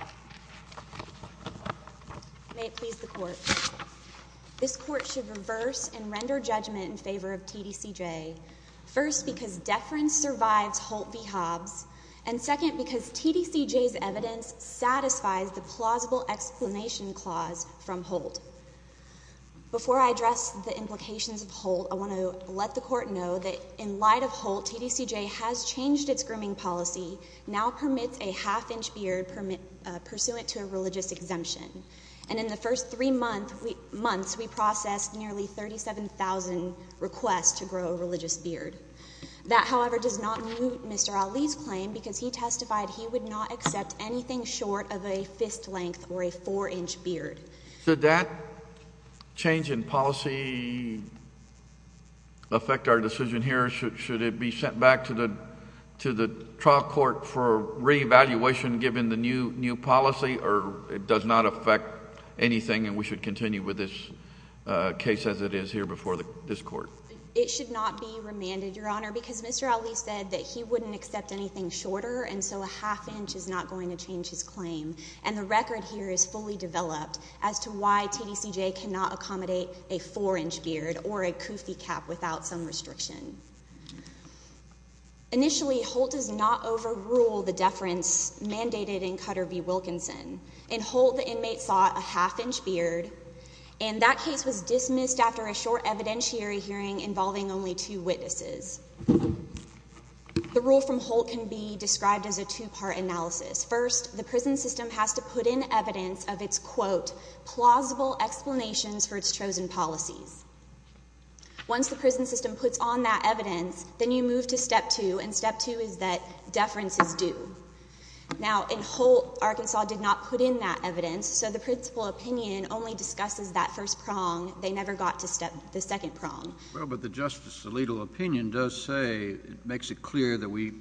May it please the Court. This Court should reverse and render judgment in favor of TDCJ, first because deference survives Holt v. Hobbs, and second because TDCJ's evidence satisfies the plausible explanation clause from Holt. Before I address the implications of Holt, I want to let the Court know that in light of Holt, TDCJ has changed its grooming policy, now permits a half-inch beard pursuant to a religious exemption. And in the first three months, we processed nearly 37,000 requests to grow a religious beard. That, however, does not move Mr. Ali's claim, because he testified he would not accept anything short of a fist-length or a four-inch beard. Did that change in policy affect our decision here? Should it be sent back to the trial court for re-evaluation given the new policy, or it does not affect anything and we should continue with this case as it is here before this Court? It should not be remanded, Your Honor, because Mr. Ali said that he wouldn't accept anything shorter, and so a half-inch is not going to change his claim. And the record here is fully developed as to why TDCJ cannot accommodate a four-inch beard or a koofy cap without some restriction. Initially, Holt does not overrule the deference mandated in Cutter v. Wilkinson. In Holt, the inmate sought a half-inch beard, and that case was dismissed after a short evidentiary hearing involving only two witnesses. The rule from Holt can be described as a two-part analysis. First, the prison system has to put in evidence of its, quote, plausible explanations for its chosen policies. Once the prison system puts on that evidence, then you move to step two, and step two is that deference is due. Now, in Holt, Arkansas did not put in that evidence, so the principal opinion only discusses that first prong. They never got to step the second prong. Well, but the Justice's legal opinion does say, makes it clear that we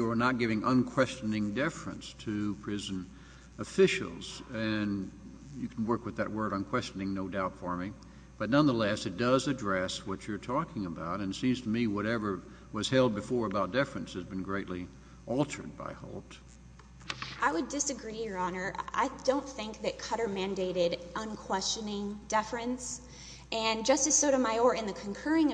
were not giving unquestioning deference to prison officials, and you can work with that word, unquestioning, no doubt for me. But nonetheless, it does address what you're talking about, and it seems to me whatever was held before about deference has been greatly altered by Holt. I would disagree, Your Honor. I don't think that Cutter mandated unquestioning deference, and Justice Sotomayor, in the concurring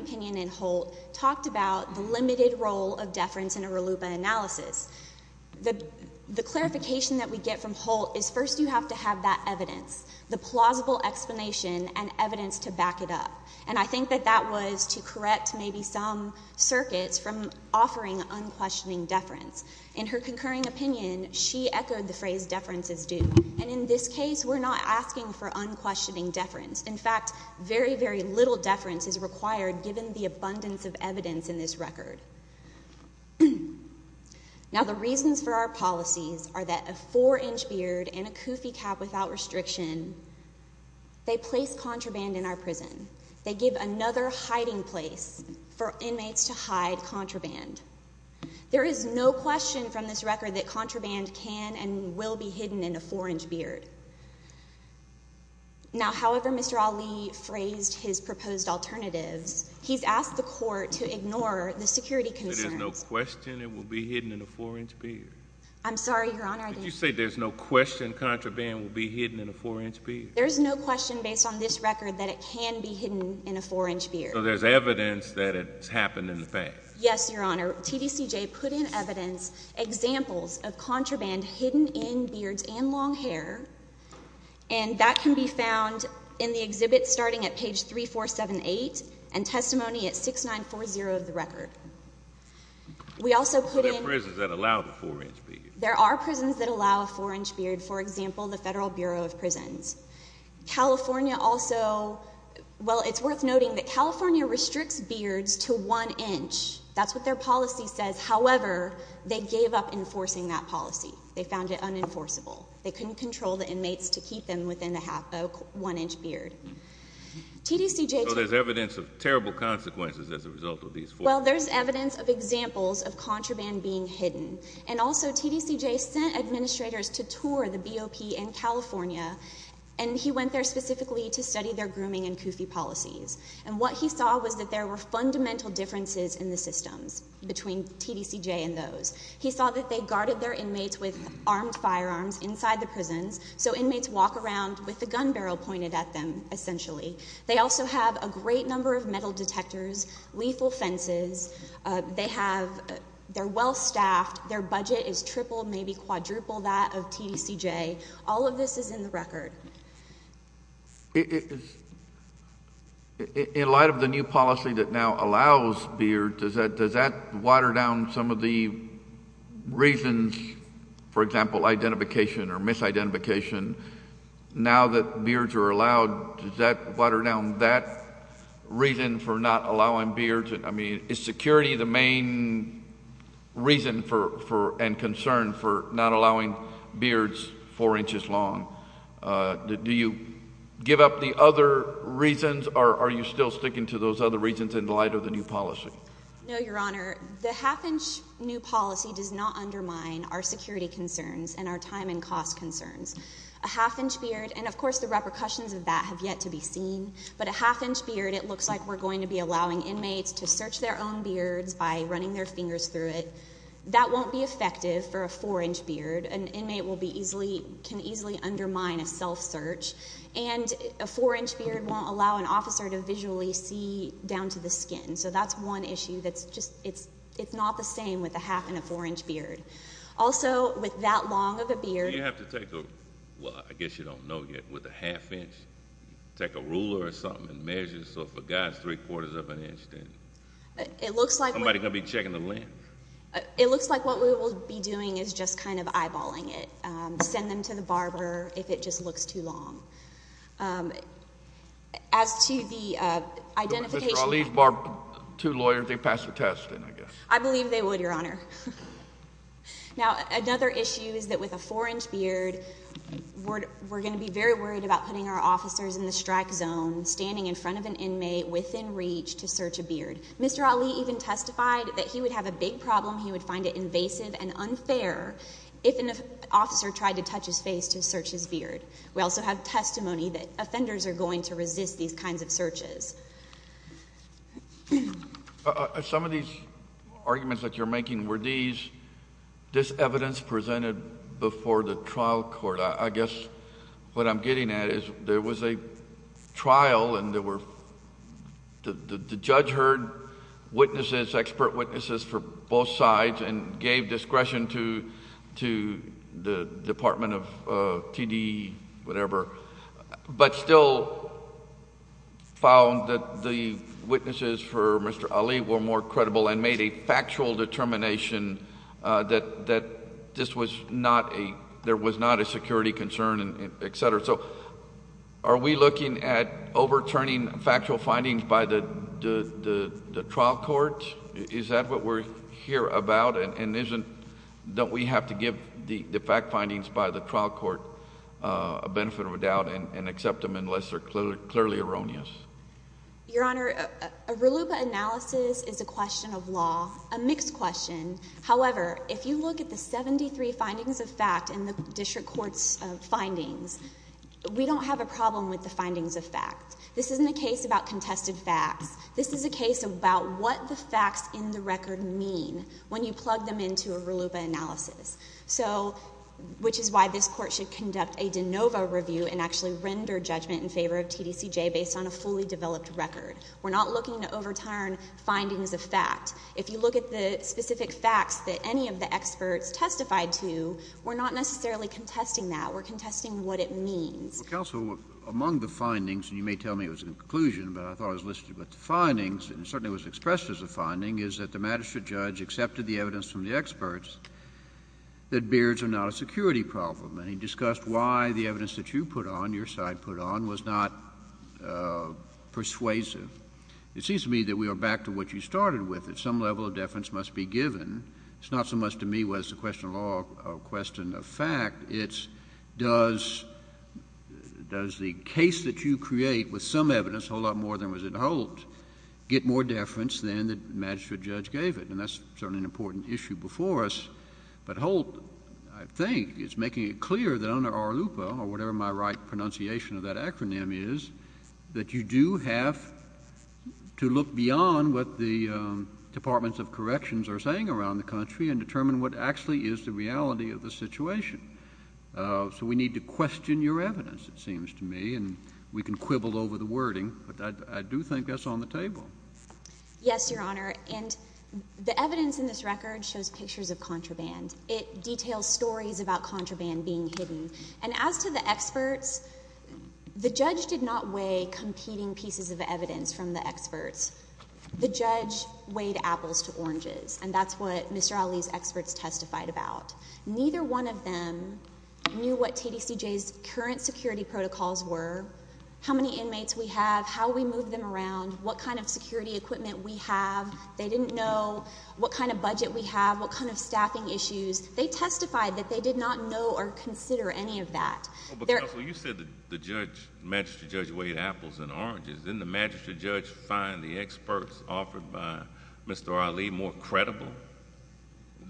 The clarification that we get from Holt is first you have to have that evidence, the plausible explanation and evidence to back it up, and I think that that was to correct maybe some circuits from offering unquestioning deference. In her concurring opinion, she echoed the phrase deference is due, and in this case, we're not asking for unquestioning deference. In fact, very, very little deference is required given the abundance of evidence in this record. Now, the reasons for our policies are that a four-inch beard and a koofy cap without restriction, they place contraband in our prison. They give another hiding place for inmates to hide contraband. There is no question from this record that contraband can and will be hidden in a four-inch beard. Now, however Mr. Ali phrased his proposed alternatives, he's asked the court to ignore the security concerns. There is no question it will be hidden in a four-inch beard? I'm sorry, Your Honor. Did you say there's no question contraband will be hidden in a four-inch beard? There's no question based on this record that it can be hidden in a four-inch beard. So there's evidence that it's happened in the past? Yes, Your Honor. TDCJ put in evidence examples of contraband hidden in beards and long hair, and that can be found in the exhibit starting at page 3478 and testimony at 6940 of the record. We also put in— So there are prisons that allow the four-inch beard? There are prisons that allow a four-inch beard. For example, the Federal Bureau of Prisons. California also—well, it's worth noting that California restricts beards to one inch. That's what their policy says. However, they gave up enforcing that policy. They found it unenforceable. They couldn't control the inmates to keep them within a one-inch beard. So there's evidence of terrible consequences as a result of these four— Well, there's evidence of examples of contraband being hidden. And also, TDCJ sent administrators to tour the BOP in California, and he went there specifically to study their grooming and koofy policies. And what he saw was that there were fundamental differences in the systems between TDCJ and those. He saw that they guarded their inmates with armed firearms inside the prisons, so inmates walk around with a gun barrel pointed at them, essentially. They also have a great number of metal detectors, lethal fences. They have—they're well-staffed. Their budget is triple, maybe quadruple that of TDCJ. All of this is in the record. In light of the new policy that now allows beards, does that water down some of the reasons, for example, identification or misidentification? Now that beards are allowed, does that water down that reason for not allowing beards? I mean, is security the main reason and concern for not allowing beards four inches long? Do you give up the other reasons, or are you still sticking to those other reasons in light of the new policy? No, Your Honor. The half-inch new policy does not undermine our security concerns and our time and cost concerns. A half-inch beard—and of course, the repercussions of that have yet to be seen—but a half-inch to search their own beards by running their fingers through it, that won't be effective for a four-inch beard. An inmate can easily undermine a self-search. And a four-inch beard won't allow an officer to visually see down to the skin. So that's one issue that's just—it's not the same with a half and a four-inch beard. Also with that long of a beard— Do you have to take a—well, I guess you don't know yet—with a half-inch, take a It looks like— Somebody's going to be checking the length. It looks like what we will be doing is just kind of eyeballing it. Send them to the barber if it just looks too long. As to the identification— Mr. Ali's barber—two lawyers, they'd pass the test, I guess. I believe they would, Your Honor. Now another issue is that with a four-inch beard, we're going to be very worried about putting our officers in the strike zone, standing in front of an inmate within reach to search a beard. Mr. Ali even testified that he would have a big problem, he would find it invasive and unfair if an officer tried to touch his face to search his beard. We also have testimony that offenders are going to resist these kinds of searches. Some of these arguments that you're making, were these—this evidence presented before the trial court? I guess what I'm getting at is there was a trial and the judge heard witnesses, expert witnesses from both sides and gave discretion to the Department of T.D., whatever, but still found that the witnesses for Mr. Ali were more credible and made a factual determination that this was not a—there was not a security concern, et cetera. So are we looking at overturning factual findings by the trial court? Is that what we're here about and isn't—don't we have to give the fact findings by the trial court a benefit of a doubt and accept them unless they're clearly erroneous? Your Honor, a RLUIPA analysis is a question of law, a mixed question. However, if you look at the 73 findings of fact in the district court's findings, we don't have a problem with the findings of fact. This isn't a case about contested facts. This is a case about what the facts in the record mean when you plug them into a RLUIPA analysis, so—which is why this court should conduct a de novo review and actually render judgment in favor of TDCJ based on a fully developed record. We're not looking to overturn findings of fact. If you look at the specific facts that any of the experts testified to, we're not necessarily contesting that. We're contesting what it means. Well, counsel, among the findings, and you may tell me it was a conclusion, but I thought I was listening about the findings, and it certainly was expressed as a finding, is that the magistrate judge accepted the evidence from the experts that beards are not a security problem. And he discussed why the evidence that you put on, your side put on, was not persuasive. It seems to me that we are back to what you started with, that some level of deference must be given. It's not so much to me whether it's a question of law or a question of fact. It's does the case that you create with some evidence, a whole lot more than was in Holt's, get more deference than the magistrate judge gave it? And that's certainly an important issue before us. But Holt, I think, is making it clear that under ARLUPA, or whatever my right pronunciation of that acronym is, that you do have to look beyond what the Departments of Corrections are saying around the country and determine what actually is the reality of the situation. So we need to question your evidence, it seems to me, and we can quibble over the wording, but I do think that's on the table. Yes, Your Honor. And the evidence in this record shows pictures of contraband. It details stories about contraband being hidden. And as to the experts, the judge did not weigh competing pieces of evidence from the experts. The judge weighed apples to oranges, and that's what Mr. Ali's experts testified about. Neither one of them knew what TDCJ's current security protocols were, how many inmates we have, how we move them around, what kind of security equipment we have. They didn't know what kind of budget we have, what kind of staffing issues. They testified that they did not know or consider any of that. Counsel, you said that the judge, the magistrate judge, weighed apples and oranges. Didn't the magistrate judge find the experts offered by Mr. Ali more credible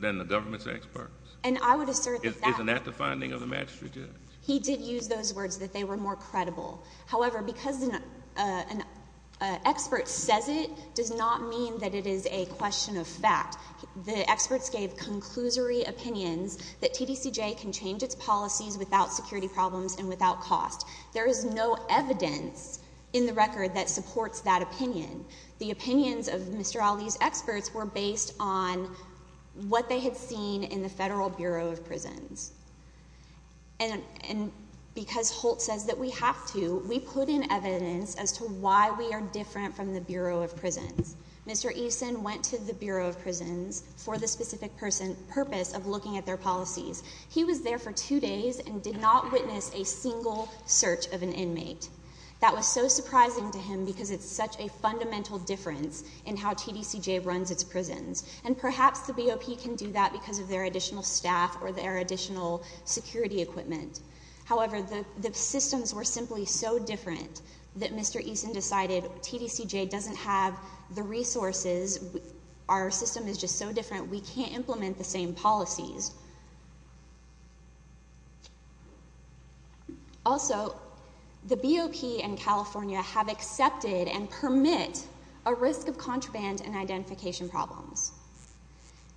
than the government's experts? And I would assert that that... Isn't that the finding of the magistrate judge? He did use those words, that they were more credible. However, because an expert says it does not mean that it is a question of fact. The experts gave conclusory opinions that TDCJ can change its policies without security problems and without cost. There is no evidence in the record that supports that opinion. The opinions of Mr. Ali's experts were based on what they had seen in the Federal Bureau of Prisons. And because Holt says that we have to, we put in evidence as to why we are different from the Bureau of Prisons. Mr. Eason went to the Bureau of Prisons for the specific purpose of looking at their policies. He was there for two days and did not witness a single search of an inmate. That was so surprising to him because it's such a fundamental difference in how TDCJ runs its prisons. And perhaps the BOP can do that because of their additional staff or their additional security equipment. However, the systems were simply so different that Mr. Eason decided TDCJ doesn't have the resources, our system is just so different, we can't implement the same policies. Also, the BOP and California have accepted and permit a risk of contraband and identification problems.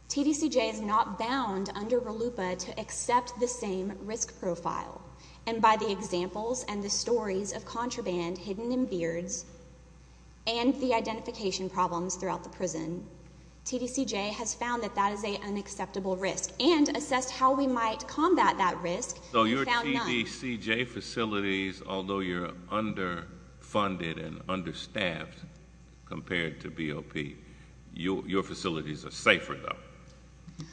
TDCJ is not bound under RLUIPA to accept the same risk profile. And by the examples and the stories of contraband hidden in beards and the identification problems throughout the prison, TDCJ has found that that is an unacceptable risk and assessed how we might combat that risk. So your TDCJ facilities, although you're underfunded and understaffed compared to BOP, your facilities are safer, though,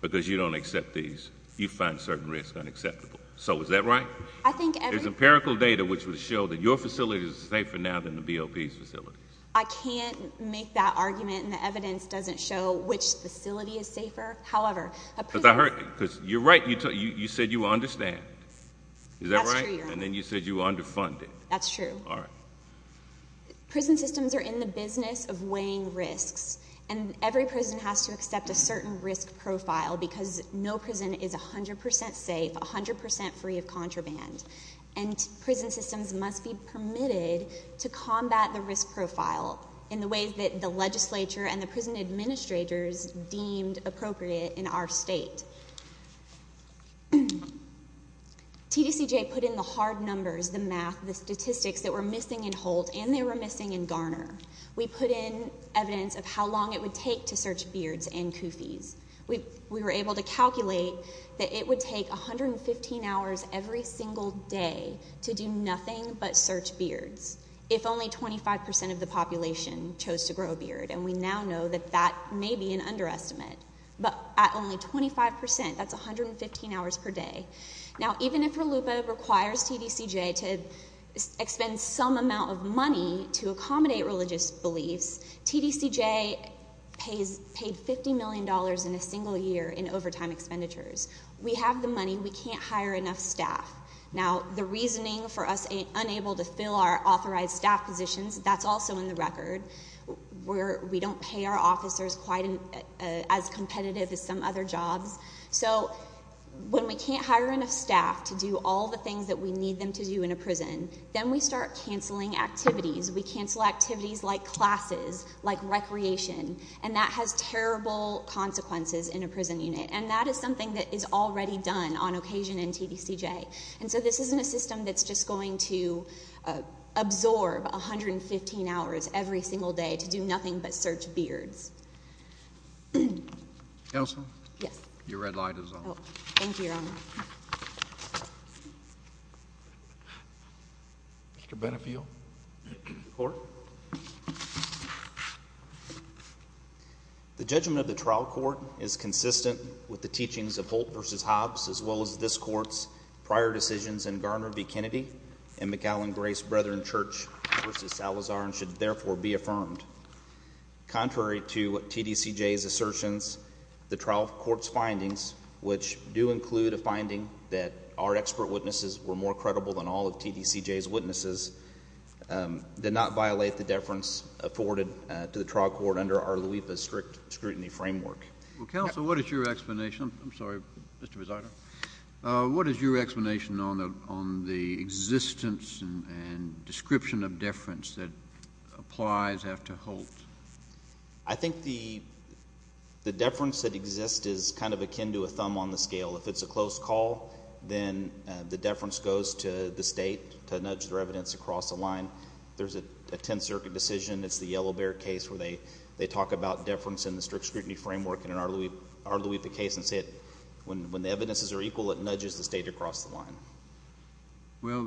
because you don't accept these. You find certain risks unacceptable. So is that right? I think every— There's empirical data which would show that your facility is safer now than the BOP's facilities. I can't make that argument and the evidence doesn't show which facility is safer. However— Because I heard—because you're right. You said you understand. Is that right? That's true, Your Honor. And then you said you were underfunded. That's true. All right. Prison systems are in the business of weighing risks, and every prison has to accept a certain risk profile because no prison is 100% safe, 100% free of contraband. And prison systems must be permitted to combat the risk profile in the ways that the legislature and the prison administrators deemed appropriate in our state. TDCJ put in the hard numbers, the math, the statistics that were missing in Holt, and they were missing in Garner. We put in evidence of how long it would take to search beards and koofies. We were able to calculate that it would take 115 hours every single day to do nothing but search beards if only 25% of the population chose to grow a beard. And we now know that that may be an underestimate. But at only 25%, that's 115 hours per day. Now, even if RLUIPA requires TDCJ to expend some amount of money to accommodate religious beliefs, TDCJ paid $50 million in a single year in overtime expenditures. We have the money. We can't hire enough staff. Now, the reasoning for us being unable to fill our authorized staff positions, that's also in the record. We don't pay our officers quite as competitive as some other jobs. So, when we can't hire enough staff to do all the things that we need them to do in a prison, then we start canceling activities. We cancel activities like classes, like recreation. And that has terrible consequences in a prison unit. And that is something that is already done on occasion in TDCJ. And so, this isn't a system that's just going to absorb 115 hours every single day to do nothing but search beards. Counsel? Yes. Your red light is on. Thank you, Your Honor. Mr. Benefiel? Court? The judgment of the trial court is consistent with the teachings of Holt v. Hobbs, as well as this court's prior decisions in Garner v. Kennedy and McAllen Grace Brethren Church v. Salazar, and should therefore be affirmed. Contrary to TDCJ's assertions, the trial court's findings, which do include a finding that our expert witnesses were more credible than all of TDCJ's witnesses, did not violate the deference afforded to the trial court under our LUIPA strict scrutiny framework. Well, Counsel, what is your explanation, I'm sorry, Mr. Buzardo, what is your explanation on the existence and description of deference that applies after Holt? I think the deference that exists is kind of akin to a thumb on the scale. If it's a close call, then the deference goes to the state to nudge their evidence across the line. If there's a Tenth Circuit decision, it's the Yellow Bear case where they talk about deference in the strict scrutiny framework in our LUIPA case and say when the evidences are equal, it nudges the state across the line. Well,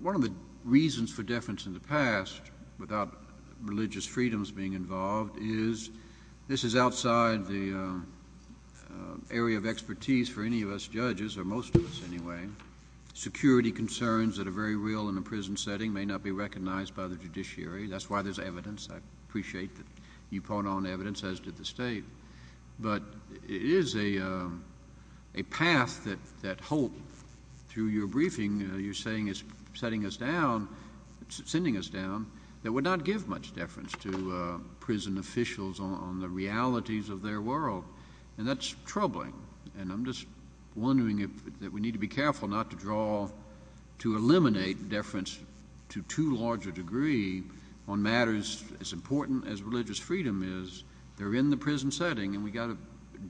one of the reasons for deference in the past without religious freedoms being involved is this is outside the area of expertise for any of us judges, or most of us anyway. Security concerns that are very real in a prison setting may not be recognized by the judiciary. That's why there's evidence. I appreciate that you point on evidence, as did the state. But it is a path that Holt, through your briefing, you're saying is setting us down, sending us down, that would not give much deference to prison officials on the realities of their world. And that's troubling. And I'm just wondering if we need to be careful not to draw, to eliminate deference to too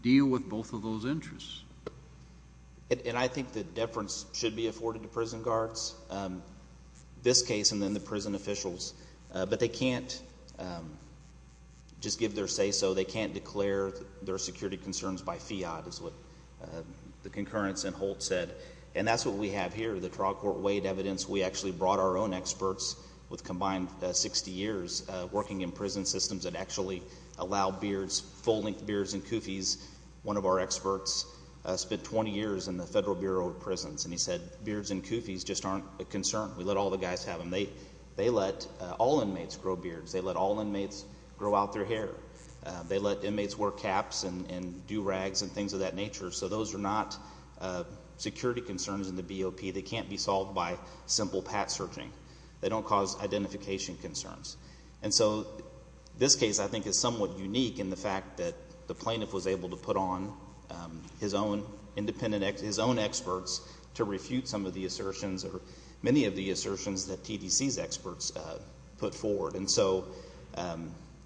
deal with both of those interests. And I think that deference should be afforded to prison guards, this case and then the prison officials. But they can't just give their say so. They can't declare their security concerns by fiat, is what the concurrence in Holt said. And that's what we have here, the trial court weighed evidence. We actually brought our own experts with combined 60 years working in prison systems that actually allow beards, full-length beards and koofies. One of our experts spent 20 years in the Federal Bureau of Prisons, and he said, beards and koofies just aren't a concern. We let all the guys have them. They let all inmates grow beards. They let all inmates grow out their hair. They let inmates wear caps and do rags and things of that nature. So those are not security concerns in the BOP. They can't be solved by simple pat searching. They don't cause identification concerns. And so this case, I think, is somewhat unique in the fact that the plaintiff was able to put on his own independent, his own experts to refute some of the assertions or many of the assertions that TDC's experts put forward. And so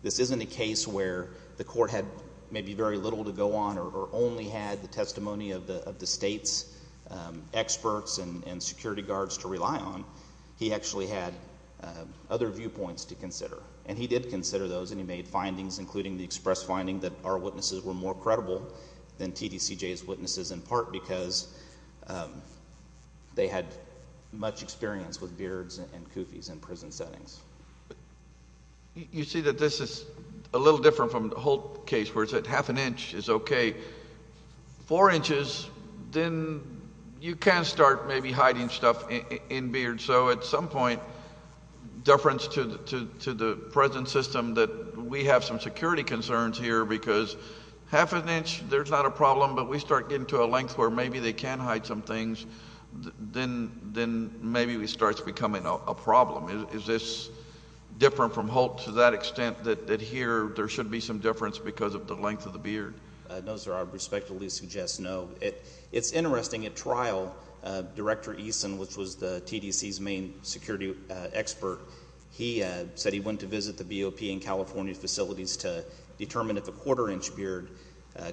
this isn't a case where the court had maybe very little to go on or only had the testimony of the state's experts and security guards to rely on. He actually had other viewpoints to consider. And he did consider those, and he made findings, including the express finding that our witnesses were more credible than TDCJ's witnesses, in part because they had much experience with beards and koofies in prison settings. You see that this is a little different from the whole case where it's at half an inch is okay. Four inches, then you can start maybe hiding stuff in beards. So at some point, deference to the present system that we have some security concerns here because half an inch, there's not a problem, but we start getting to a length where maybe they can hide some things, then maybe it starts becoming a problem. Is this different from Holt to that extent that here there should be some deference because of the length of the beard? No, sir. I respectfully suggest no. It's interesting. At trial, Director Eason, which was the TDC's main security expert, he said he went to visit the BOP in California facilities to determine if a quarter inch beard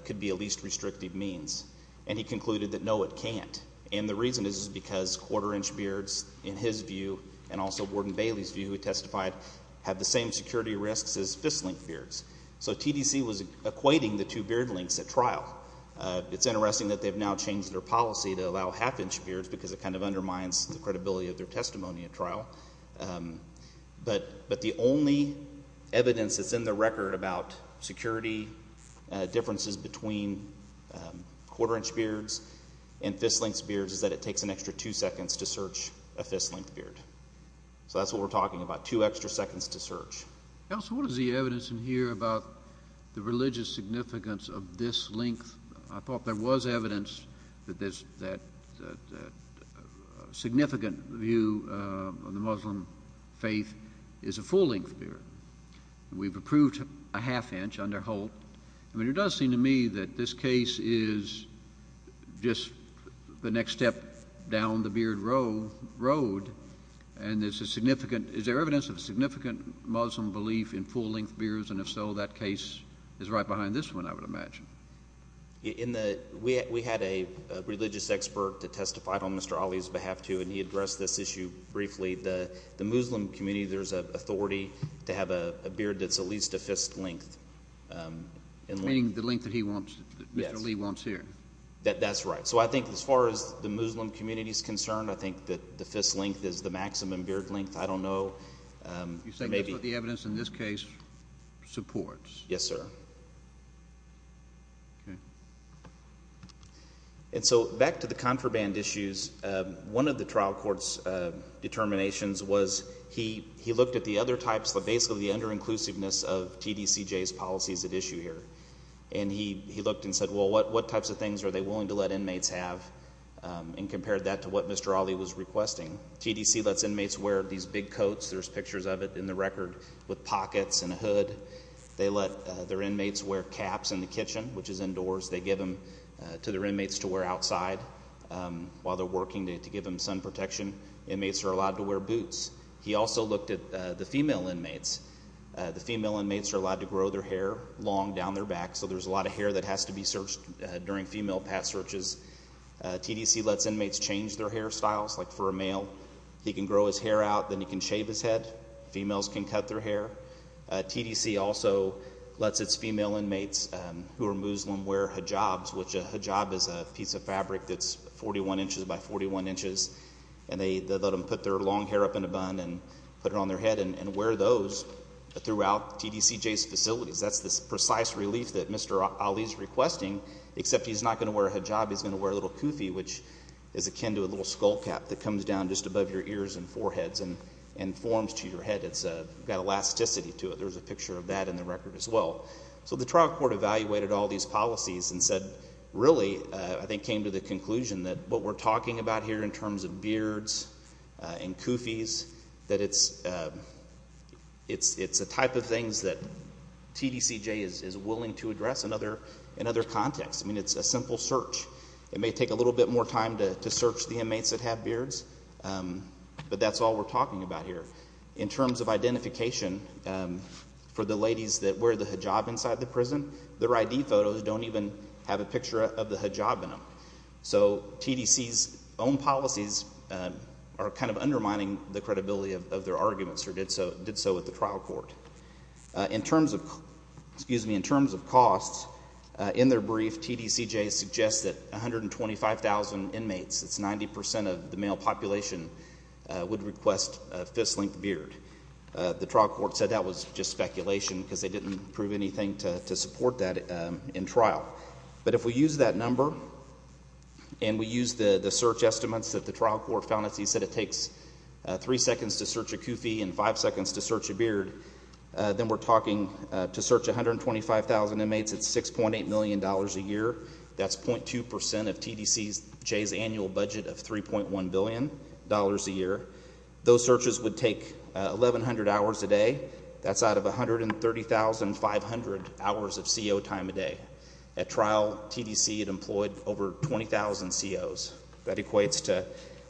could be a least restrictive means. And he concluded that no, it can't. And the reason is because quarter inch beards, in his view, and also Warden Bailey's view, who testified, have the same security risks as fist-length beards. So TDC was equating the two beard lengths at trial. It's interesting that they've now changed their policy to allow half inch beards because it kind of undermines the credibility of their testimony at trial. But the only evidence that's in the record about security differences between quarter inch beards and fist-length beards is that it takes an extra two seconds to search a fist-length beard. So that's what we're talking about, two extra seconds to search. Counsel, what is the evidence in here about the religious significance of this length? I thought there was evidence that there's that significant view of the Muslim faith is a full-length beard. We've approved a half inch under Holt. I mean, it does seem to me that this case is just the next step down the beard road. Is there evidence of a significant Muslim belief in full-length beards? And if so, that case is right behind this one, I would imagine. We had a religious expert that testified on Mr. Ali's behalf, too, and he addressed this issue briefly. The Muslim community, there's an authority to have a beard that's at least a fist-length. Meaning the length that he wants, that Mr. Lee wants here. That's right. So I think as far as the Muslim community is concerned, I think that the fist length is the maximum beard length. I don't know. You're saying that's what the evidence in this case supports? Yes, sir. Okay. And so back to the contraband issues, one of the trial court's determinations was he looked at the other types, but basically the under-inclusiveness of TDCJ's policies at issue here. And he looked and said, well, what types of things are they willing to let inmates have? And compared that to what Mr. Ali was requesting, TDC lets inmates wear these big coats. There's pictures of it in the record with pockets and a hood. They let their inmates wear caps in the kitchen, which is indoors. They give them to their inmates to wear outside while they're working to give them sun protection. Inmates are allowed to wear boots. He also looked at the female inmates. The female inmates are allowed to grow their hair long down their back. So there's a lot of hair that has to be searched during female pass searches. TDC lets inmates change their hairstyles. Like for a male, he can grow his hair out, then he can shave his head. Females can cut their hair. TDC also lets its female inmates who are Muslim wear hijabs, which a hijab is a piece of fabric that's 41 inches by 41 inches. And they let them put their long hair up in a bun and put it on their head and wear those throughout TDCJ's facilities. That's this precise relief that Mr. Ali is requesting, except he's not going to wear a hijab. He's going to wear a little kufi, which is akin to a little skull cap that comes down just above your ears and foreheads and forms to your head. It's got elasticity to it. There's a picture of that in the record as well. So the trial court evaluated all these policies and said, really, I think came to the conclusion that what we're talking about here in terms of beards and kufis, that it's a type of things that TDCJ is willing to address in other contexts. I mean, it's a simple search. It may take a little bit more time to search the inmates that have beards, but that's all we're talking about here. In terms of identification, for the ladies that wear the hijab inside the prison, their ID photos don't even have a picture of the hijab in them. So TDC's own policies are kind of undermining the credibility of their arguments, or did so with the trial court. In terms of costs, in their brief, TDCJ suggests that 125,000 inmates, that's 90% of the male population, would request a fist-length beard. The trial court said that was just speculation because they didn't prove anything to support that in trial. But if we use that number and we use the search estimates that the trial court found, as he said, it takes three seconds to search a kufi and five seconds to search a beard, then we're talking, to search 125,000 inmates, it's $6.8 million a year. That's 0.2% of TDCJ's annual budget of $3.1 billion a year. Those searches would take 1,100 hours a day. That's out of 130,500 hours of CO time a day. At trial, TDC had employed over 20,000 COs. That equates to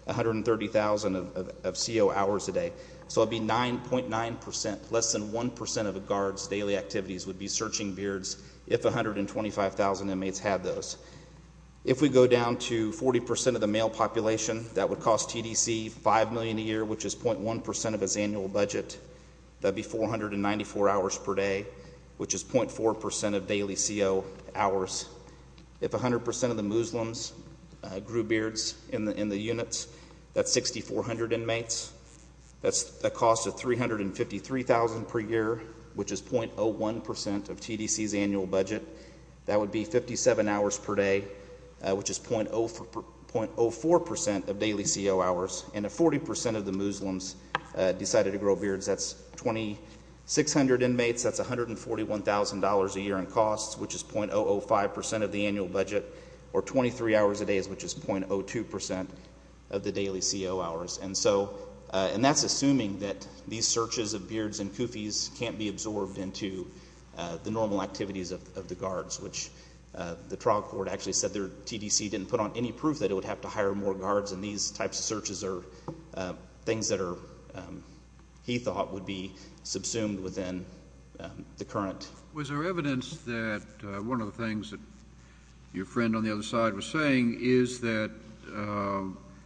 130,000 of CO hours a day. So it would be 9.9%, less than 1% of a guard's daily activities would be searching beards if 125,000 inmates had those. If we go down to 40% of the male population, that would cost TDC $5 million a year, which is 0.1% of its annual budget. That would be 494 hours per day, which is 0.4% of daily CO hours. If 100% of the Muslims grew beards in the units, that's 6,400 inmates. That's a cost of $353,000 per year, which is 0.01% of TDC's annual budget. That would be 57 hours per day, which is 0.04% of daily CO hours. And if 40% of the Muslims decided to grow beards, that's 2,600 inmates. That's $141,000 a year in costs, which is 0.005% of the annual budget. Or 23 hours a day, which is 0.02% of the daily CO hours. And that's assuming that these searches of beards and koofies can't be absorbed into the normal activities of the guards, which the trial court actually said their TDC didn't put on any proof that it would have to hire more guards. And these types of searches are things that he thought would be subsumed within the current. Was there evidence that one of the things that your friend on the other side was saying is that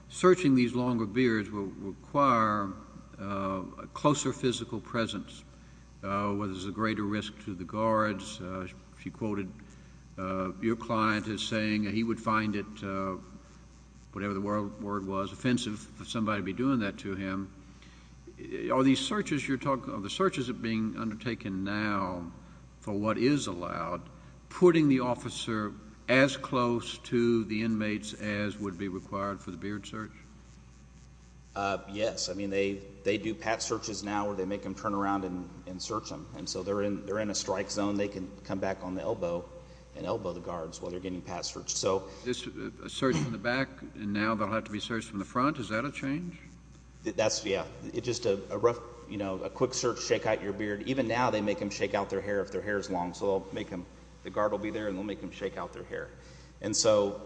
searching these longer beards will require a closer physical presence, whether there's a greater risk to the guards? She quoted your client as saying he would find it, whatever the word was, offensive for somebody to be doing that to him. Are these searches you're talking about, the searches that are being undertaken now for what is allowed, putting the officer as close to the inmates as would be required for the beard search? Yes. I mean, they do pat searches now where they make them turn around and search them. And so they're in a strike zone. They can come back on the elbow and elbow the guards while they're getting pat searched. So a search from the back and now they'll have to be searched from the front? Is that a change? That's, yeah. It's just a quick search, shake out your beard. Even now they make them shake out their hair if their hair is long. So the guard will be there and they'll make them shake out their hair. And so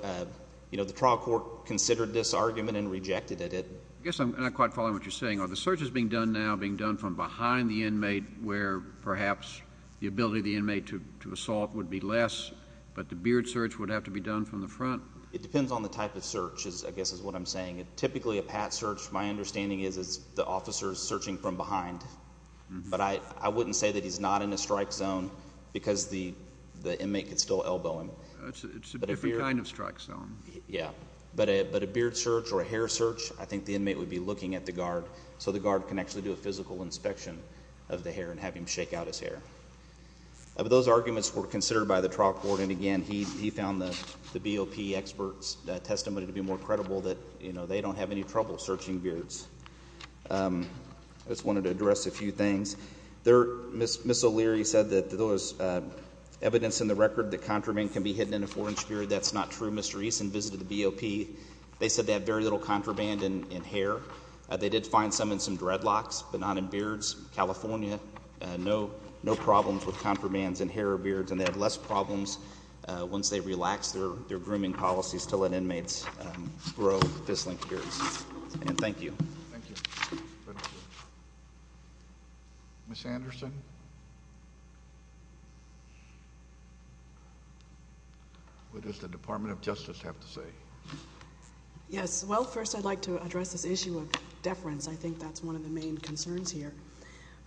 the trial court considered this argument and rejected it. I guess I'm not quite following what you're saying. Are the searches being done now being done from behind the inmate where perhaps the ability of the inmate to assault would be less, but the beard search would have to be done from the front? It depends on the type of search, I guess is what I'm saying. Typically a pat search, my understanding is, is the officer is searching from behind. But I wouldn't say that he's not in a strike zone because the inmate can still elbow him. It's a different kind of strike zone. Yeah. But a beard search or a hair search, I think the inmate would be looking at the guard so the guard can actually do a physical inspection of the hair and have him shake out his hair. Those arguments were considered by the trial court. And, again, he found the BOP expert's testimony to be more credible that they don't have any trouble searching beards. I just wanted to address a few things. Ms. O'Leary said that there was evidence in the record that contraband can be hidden in a four-inch beard. That's not true. When Mr. Eason visited the BOP, they said they had very little contraband in hair. They did find some in some dreadlocks, but not in beards. California, no problems with contraband in hair or beards. And they had less problems once they relaxed their grooming policies to let inmates grow this length of beards. And thank you. Thank you. Ms. Anderson? What does the Department of Justice have to say? Yes. Well, first I'd like to address this issue of deference. I think that's one of the main concerns here.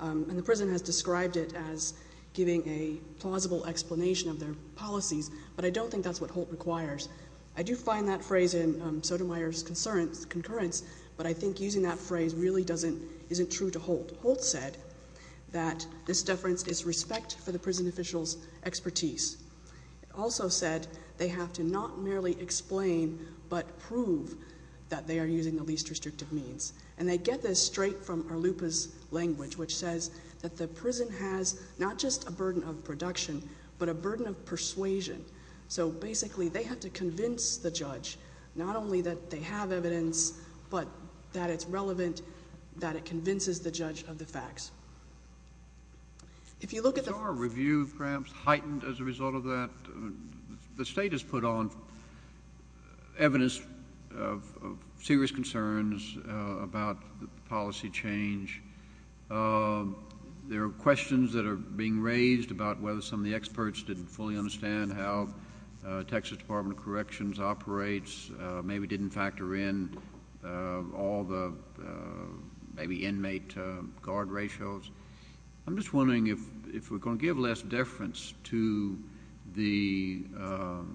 And the prison has described it as giving a plausible explanation of their policies, but I don't think that's what Holt requires. I do find that phrase in Sotomayor's concurrence, but I think using that phrase really isn't true to Holt. Holt said that this deference is respect for the prison official's expertise. It also said they have to not merely explain, but prove that they are using the least restrictive means. And they get this straight from Arlupa's language, which says that the prison has not just a burden of production, but a burden of persuasion. So basically they have to convince the judge not only that they have evidence, but that it's relevant, that it convinces the judge of the facts. If you look at the— Is our review perhaps heightened as a result of that? The state has put on evidence of serious concerns about the policy change. There are questions that are being raised about whether some of the experts didn't fully understand how Texas Department of Corrections operates, maybe didn't factor in all the maybe inmate guard ratios. I'm just wondering if we're going to give less deference to the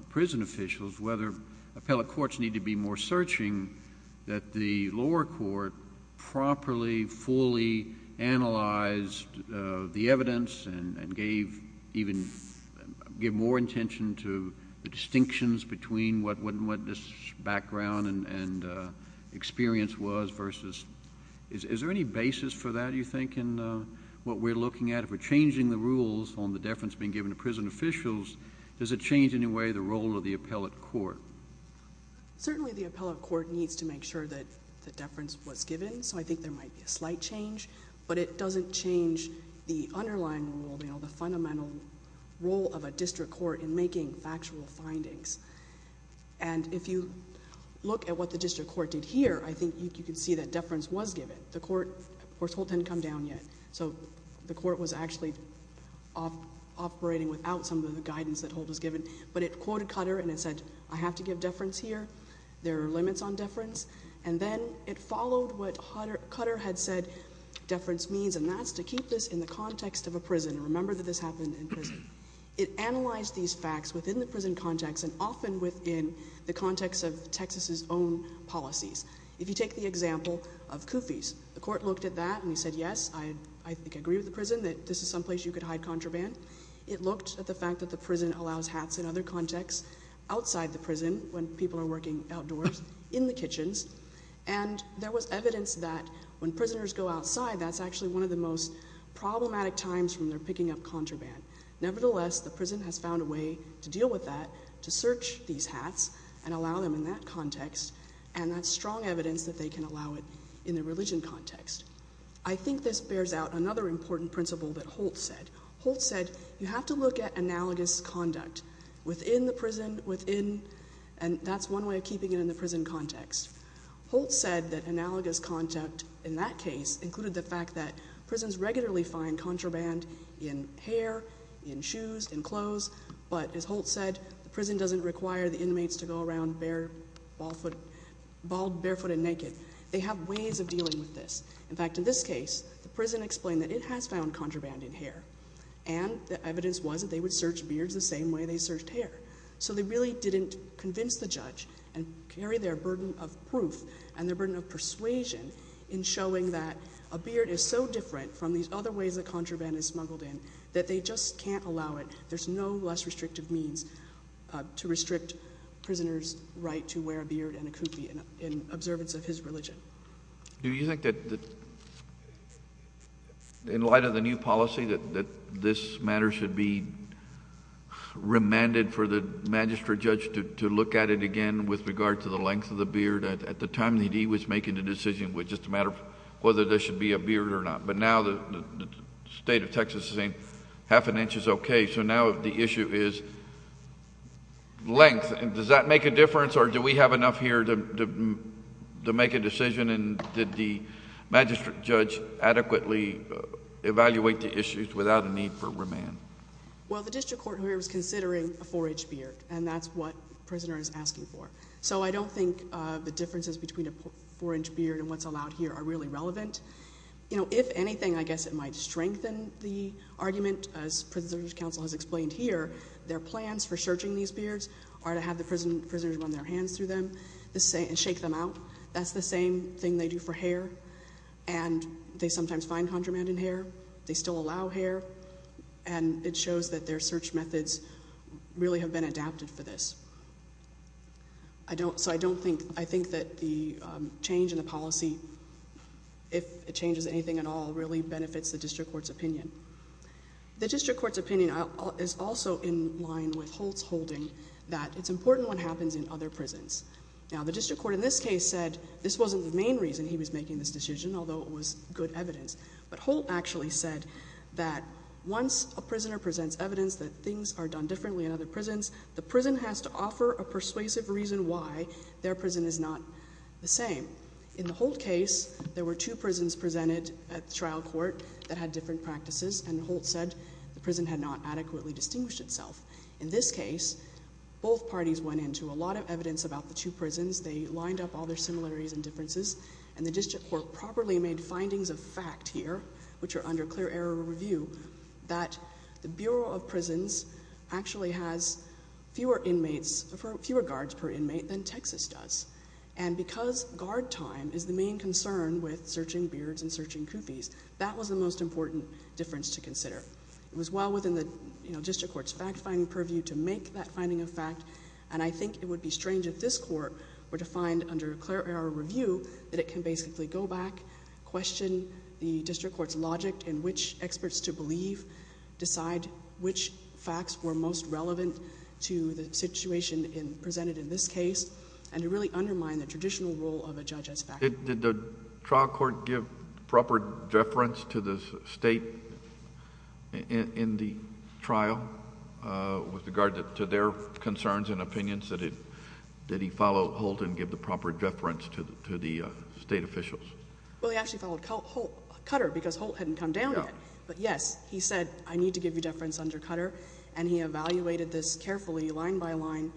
prison officials, whether appellate courts need to be more searching, that the lower court properly, fully analyzed the evidence and gave even—gave more intention to the distinctions between what this background and experience was versus— Is there any basis for that, do you think, in what we're looking at? If we're changing the rules on the deference being given to prison officials, does it change in any way the role of the appellate court? Certainly, the appellate court needs to make sure that the deference was given, so I think there might be a slight change, but it doesn't change the underlying role, the fundamental role of a district court in making factual findings. And if you look at what the district court did here, I think you can see that deference was given. The court—of course, Holt didn't come down yet, so the court was actually operating without some of the guidance that Holt was given, but it quoted Cutter and it said, I have to give deference here, there are limits on deference, and then it followed what Cutter had said deference means, and that's to keep this in the context of a prison. Remember that this happened in prison. It analyzed these facts within the prison context and often within the context of Texas's own policies. If you take the example of Kufi's, the court looked at that and said, yes, I think I agree with the prison that this is someplace you could hide contraband. It looked at the fact that the prison allows hats in other contexts outside the prison when people are working outdoors in the kitchens, and there was evidence that when prisoners go outside, that's actually one of the most problematic times when they're picking up contraband. Nevertheless, the prison has found a way to deal with that, to search these hats and allow them in that context, and that's strong evidence that they can allow it in the religion context. I think this bears out another important principle that Holt said. Holt said you have to look at analogous conduct within the prison, and that's one way of keeping it in the prison context. Holt said that analogous conduct in that case included the fact that prisons regularly find contraband in hair, in shoes, in clothes, but as Holt said, the prison doesn't require the inmates to go around bald, barefoot, and naked. They have ways of dealing with this. In fact, in this case, the prison explained that it has found contraband in hair, and the evidence was that they would search beards the same way they searched hair. So they really didn't convince the judge and carry their burden of proof and their burden of persuasion in showing that a beard is so different from these other ways that contraband is smuggled in that they just can't allow it. There's no less restrictive means to restrict prisoners' right to wear a beard and a kufi in observance of his religion. Do you think that in light of the new policy that this matter should be remanded for the magistrate judge to look at it again with regard to the length of the beard at the time that he was making the decision, just a matter of whether there should be a beard or not? But now the state of Texas is saying half an inch is okay, so now the issue is length. Does that make a difference, or do we have enough here to make a decision, and did the magistrate judge adequately evaluate the issues without a need for remand? Well, the district court here is considering a 4-inch beard, and that's what the prisoner is asking for. So I don't think the differences between a 4-inch beard and what's allowed here are really relevant. If anything, I guess it might strengthen the argument. As prisoner's counsel has explained here, their plans for searching these beards are to have the prisoners run their hands through them and shake them out. That's the same thing they do for hair, and they sometimes find contraband in hair. They still allow hair, and it shows that their search methods really have been adapted for this. So I think that the change in the policy, if it changes anything at all, really benefits the district court's opinion. The district court's opinion is also in line with Holt's holding that it's important what happens in other prisons. Now, the district court in this case said this wasn't the main reason he was making this decision, although it was good evidence. But Holt actually said that once a prisoner presents evidence that things are done differently in other prisons, the prison has to offer a persuasive reason why their prison is not the same. In the Holt case, there were two prisons presented at trial court that had different practices, and Holt said the prison had not adequately distinguished itself. In this case, both parties went into a lot of evidence about the two prisons. They lined up all their similarities and differences, and the district court properly made findings of fact here, which are under clear error review, that the Bureau of Prisons actually has fewer guards per inmate than Texas does. And because guard time is the main concern with searching beards and searching coopies, that was the most important difference to consider. It was well within the district court's fact-finding purview to make that finding of fact, and I think it would be strange if this court were to find under clear error review that it can basically go back, question the district court's logic in which experts to believe, decide which facts were most relevant to the situation presented in this case, and to really undermine the traditional role of a judge as fact. Did the trial court give proper deference to the State in the trial with regard to their concerns and opinions? Did he follow Holt and give the proper deference to the State officials? Well, he actually followed Cutter because Holt hadn't come down yet. But yes, he said, I need to give you deference under Cutter, and he evaluated this carefully, line by line,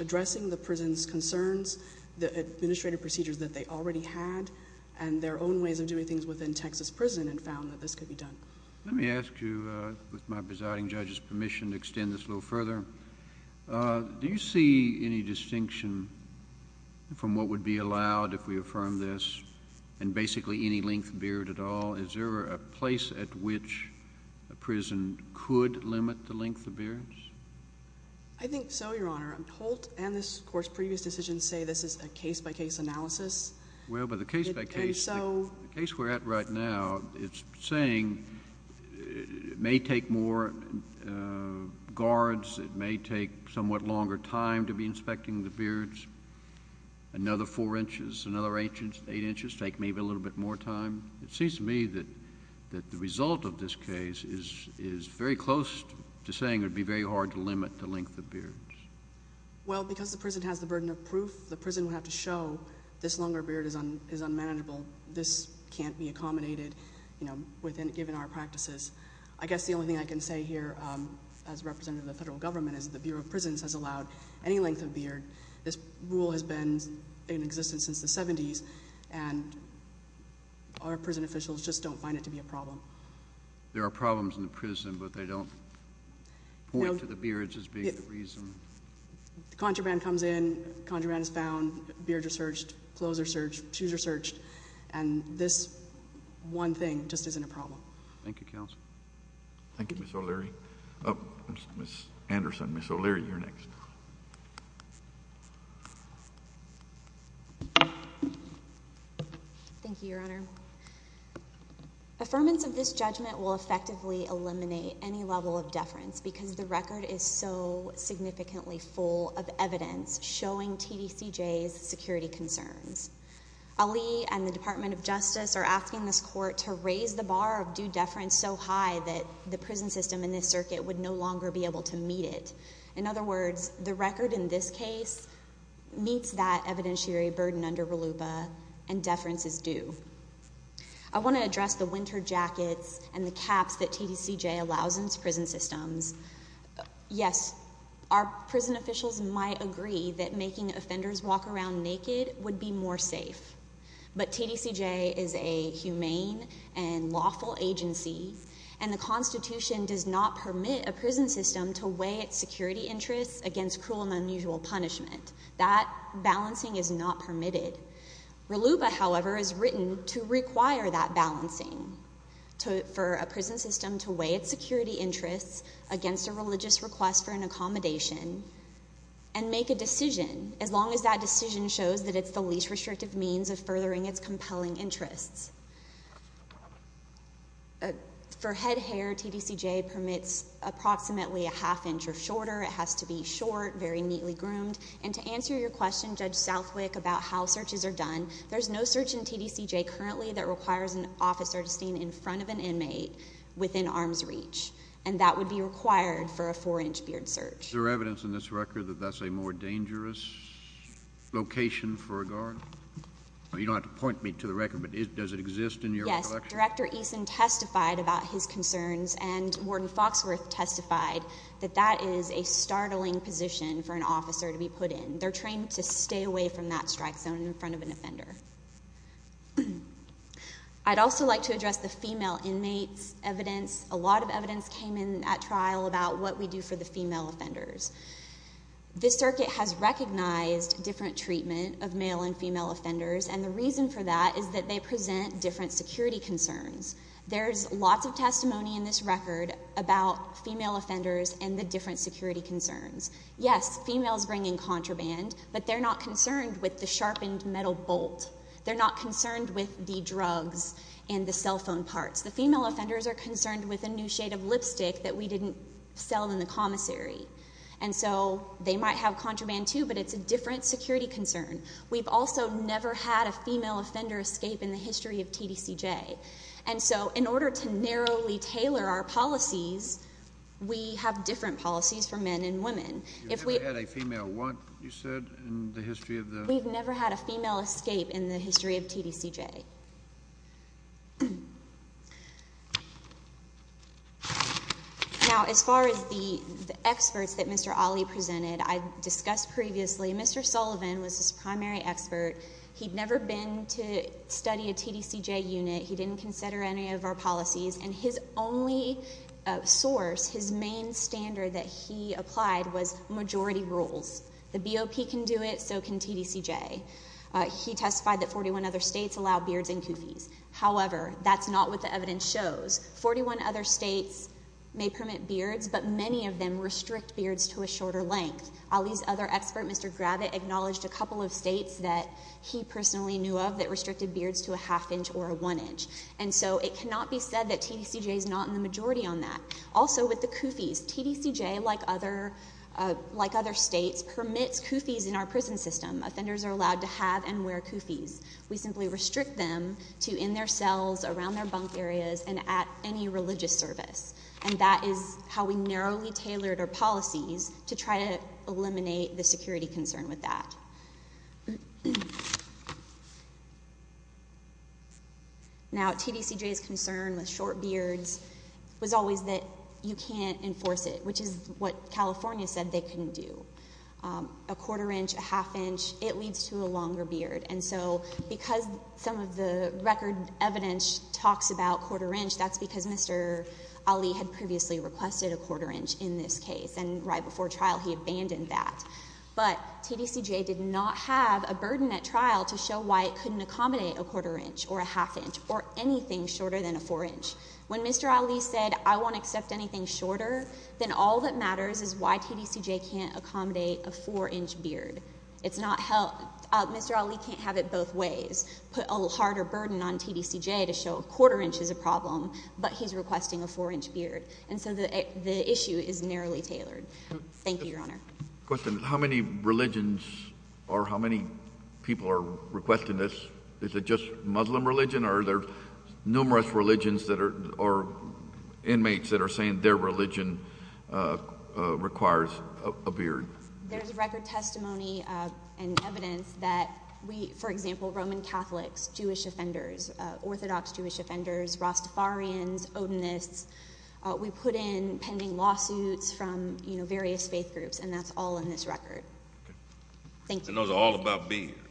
addressing the prison's concerns, the administrative procedures that they already had, and their own ways of doing things within Texas prison and found that this could be done. Let me ask you, with my presiding judge's permission, to extend this a little further. Do you see any distinction from what would be allowed if we affirm this, and basically any length of beard at all? Is there a place at which a prison could limit the length of beards? I think so, Your Honor. Holt and this court's previous decision say this is a case-by-case analysis. Well, but the case-by-case, the case we're at right now, it's saying it may take more guards, it may take somewhat longer time to be inspecting the beards, another four inches, another eight inches, take maybe a little bit more time. It seems to me that the result of this case is very close to saying it would be very hard to limit the length of beards. Well, because the prison has the burden of proof, the prison would have to show this longer beard is unmanageable, this can't be accommodated, you know, given our practices. I guess the only thing I can say here, as representative of the federal government, is the Bureau of Prisons has allowed any length of beard. This rule has been in existence since the 70s, and our prison officials just don't find it to be a problem. There are problems in the prison, but they don't point to the beards as being the reason. The contraband comes in, contraband is found, beards are searched, clothes are searched, shoes are searched, and this one thing just isn't a problem. Thank you, Counsel. Thank you, Ms. O'Leary. Ms. Anderson, Ms. O'Leary, you're next. Thank you, Your Honor. Affirmance of this judgment will effectively eliminate any level of deference because the record is so significantly full of evidence showing TDCJ's security concerns. Ali and the Department of Justice are asking this court to raise the bar of due deference so high that the prison system in this circuit would no longer be able to meet it. In other words, the record in this case meets that evidentiary burden under RLUIPA, and deference is due. I want to address the winter jackets and the caps that TDCJ allows in its prison systems. Yes, our prison officials might agree that making offenders walk around naked would be more safe, but TDCJ is a humane and lawful agency, and the Constitution does not permit a prison system to weigh its security interests against cruel and unusual punishment. That balancing is not permitted. RLUIPA, however, is written to require that balancing for a prison system to weigh its security interests against a religious request for an accommodation and make a decision, as long as that decision shows that it's the least restrictive means of furthering its compelling interests. For head hair, TDCJ permits approximately a half inch or shorter. It has to be short, very neatly groomed. And to answer your question, Judge Southwick, about how searches are done, there's no search in TDCJ currently that requires an officer to stand in front of an inmate within arm's reach, and that would be required for a four-inch beard search. Is there evidence in this record that that's a more dangerous location for a guard? You don't have to point me to the record, but does it exist in your recollection? Yes, Director Eason testified about his concerns, and Warden Foxworth testified that that is a startling position for an officer to be put in. They're trained to stay away from that strike zone in front of an offender. I'd also like to address the female inmates evidence. A lot of evidence came in at trial about what we do for the female offenders. This circuit has recognized different treatment of male and female offenders, and the reason for that is that they present different security concerns. There's lots of testimony in this record about female offenders and the different security concerns. Yes, females bring in contraband, but they're not concerned with the sharpened metal bolt. They're not concerned with the drugs and the cell phone parts. The female offenders are concerned with a new shade of lipstick that we didn't sell in the commissary. And so they might have contraband too, but it's a different security concern. We've also never had a female offender escape in the history of TDCJ. And so in order to narrowly tailor our policies, we have different policies for men and women. You've never had a female want, you said, in the history of the? We've never had a female escape in the history of TDCJ. Now, as far as the experts that Mr. Ali presented, I discussed previously, Mr. Sullivan was his primary expert. He'd never been to study a TDCJ unit. He didn't consider any of our policies. And his only source, his main standard that he applied was majority rules. The BOP can do it, so can TDCJ. He testified that 41 other states allow beards and koofies. However, that's not what the evidence shows. Forty-one other states may permit beards, but many of them restrict beards to a shorter length. Ali's other expert, Mr. Gravitt, acknowledged a couple of states that he personally knew of that restricted beards to a half inch or a one inch. And so it cannot be said that TDCJ is not in the majority on that. Also with the koofies, TDCJ, like other states, permits koofies in our prison system. Offenders are allowed to have and wear koofies. We simply restrict them to in their cells, around their bunk areas, and at any religious service. And that is how we narrowly tailored our policies to try to eliminate the security concern with that. Now, TDCJ's concern with short beards was always that you can't enforce it, which is what California said they couldn't do. A quarter inch, a half inch, it leads to a longer beard. And so because some of the record evidence talks about quarter inch, that's because Mr. Ali had previously requested a quarter inch in this case, and right before trial he abandoned that. But TDCJ did not have a burden at trial to show why it couldn't accommodate a quarter inch or a half inch or anything shorter than a four inch. When Mr. Ali said, I won't accept anything shorter, then all that matters is why TDCJ can't accommodate a four inch beard. Mr. Ali can't have it both ways, put a harder burden on TDCJ to show a quarter inch is a problem, but he's requesting a four inch beard. And so the issue is narrowly tailored. Thank you, Your Honor. How many religions or how many people are requesting this? Is it just Muslim religion or are there numerous religions or inmates that are saying their religion requires a beard? There's record testimony and evidence that we, for example, Roman Catholics, Jewish offenders, Orthodox Jewish offenders, Rastafarians, Odinists, we put in pending lawsuits from various faith groups, and that's all in this record. Thank you. And those are all about beards.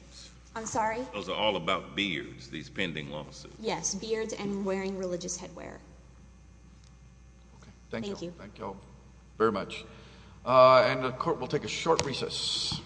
I'm sorry? Those are all about beards, these pending lawsuits. Yes, beards and wearing religious headwear. Thank you. Thank you all very much. And the court will take a short recess.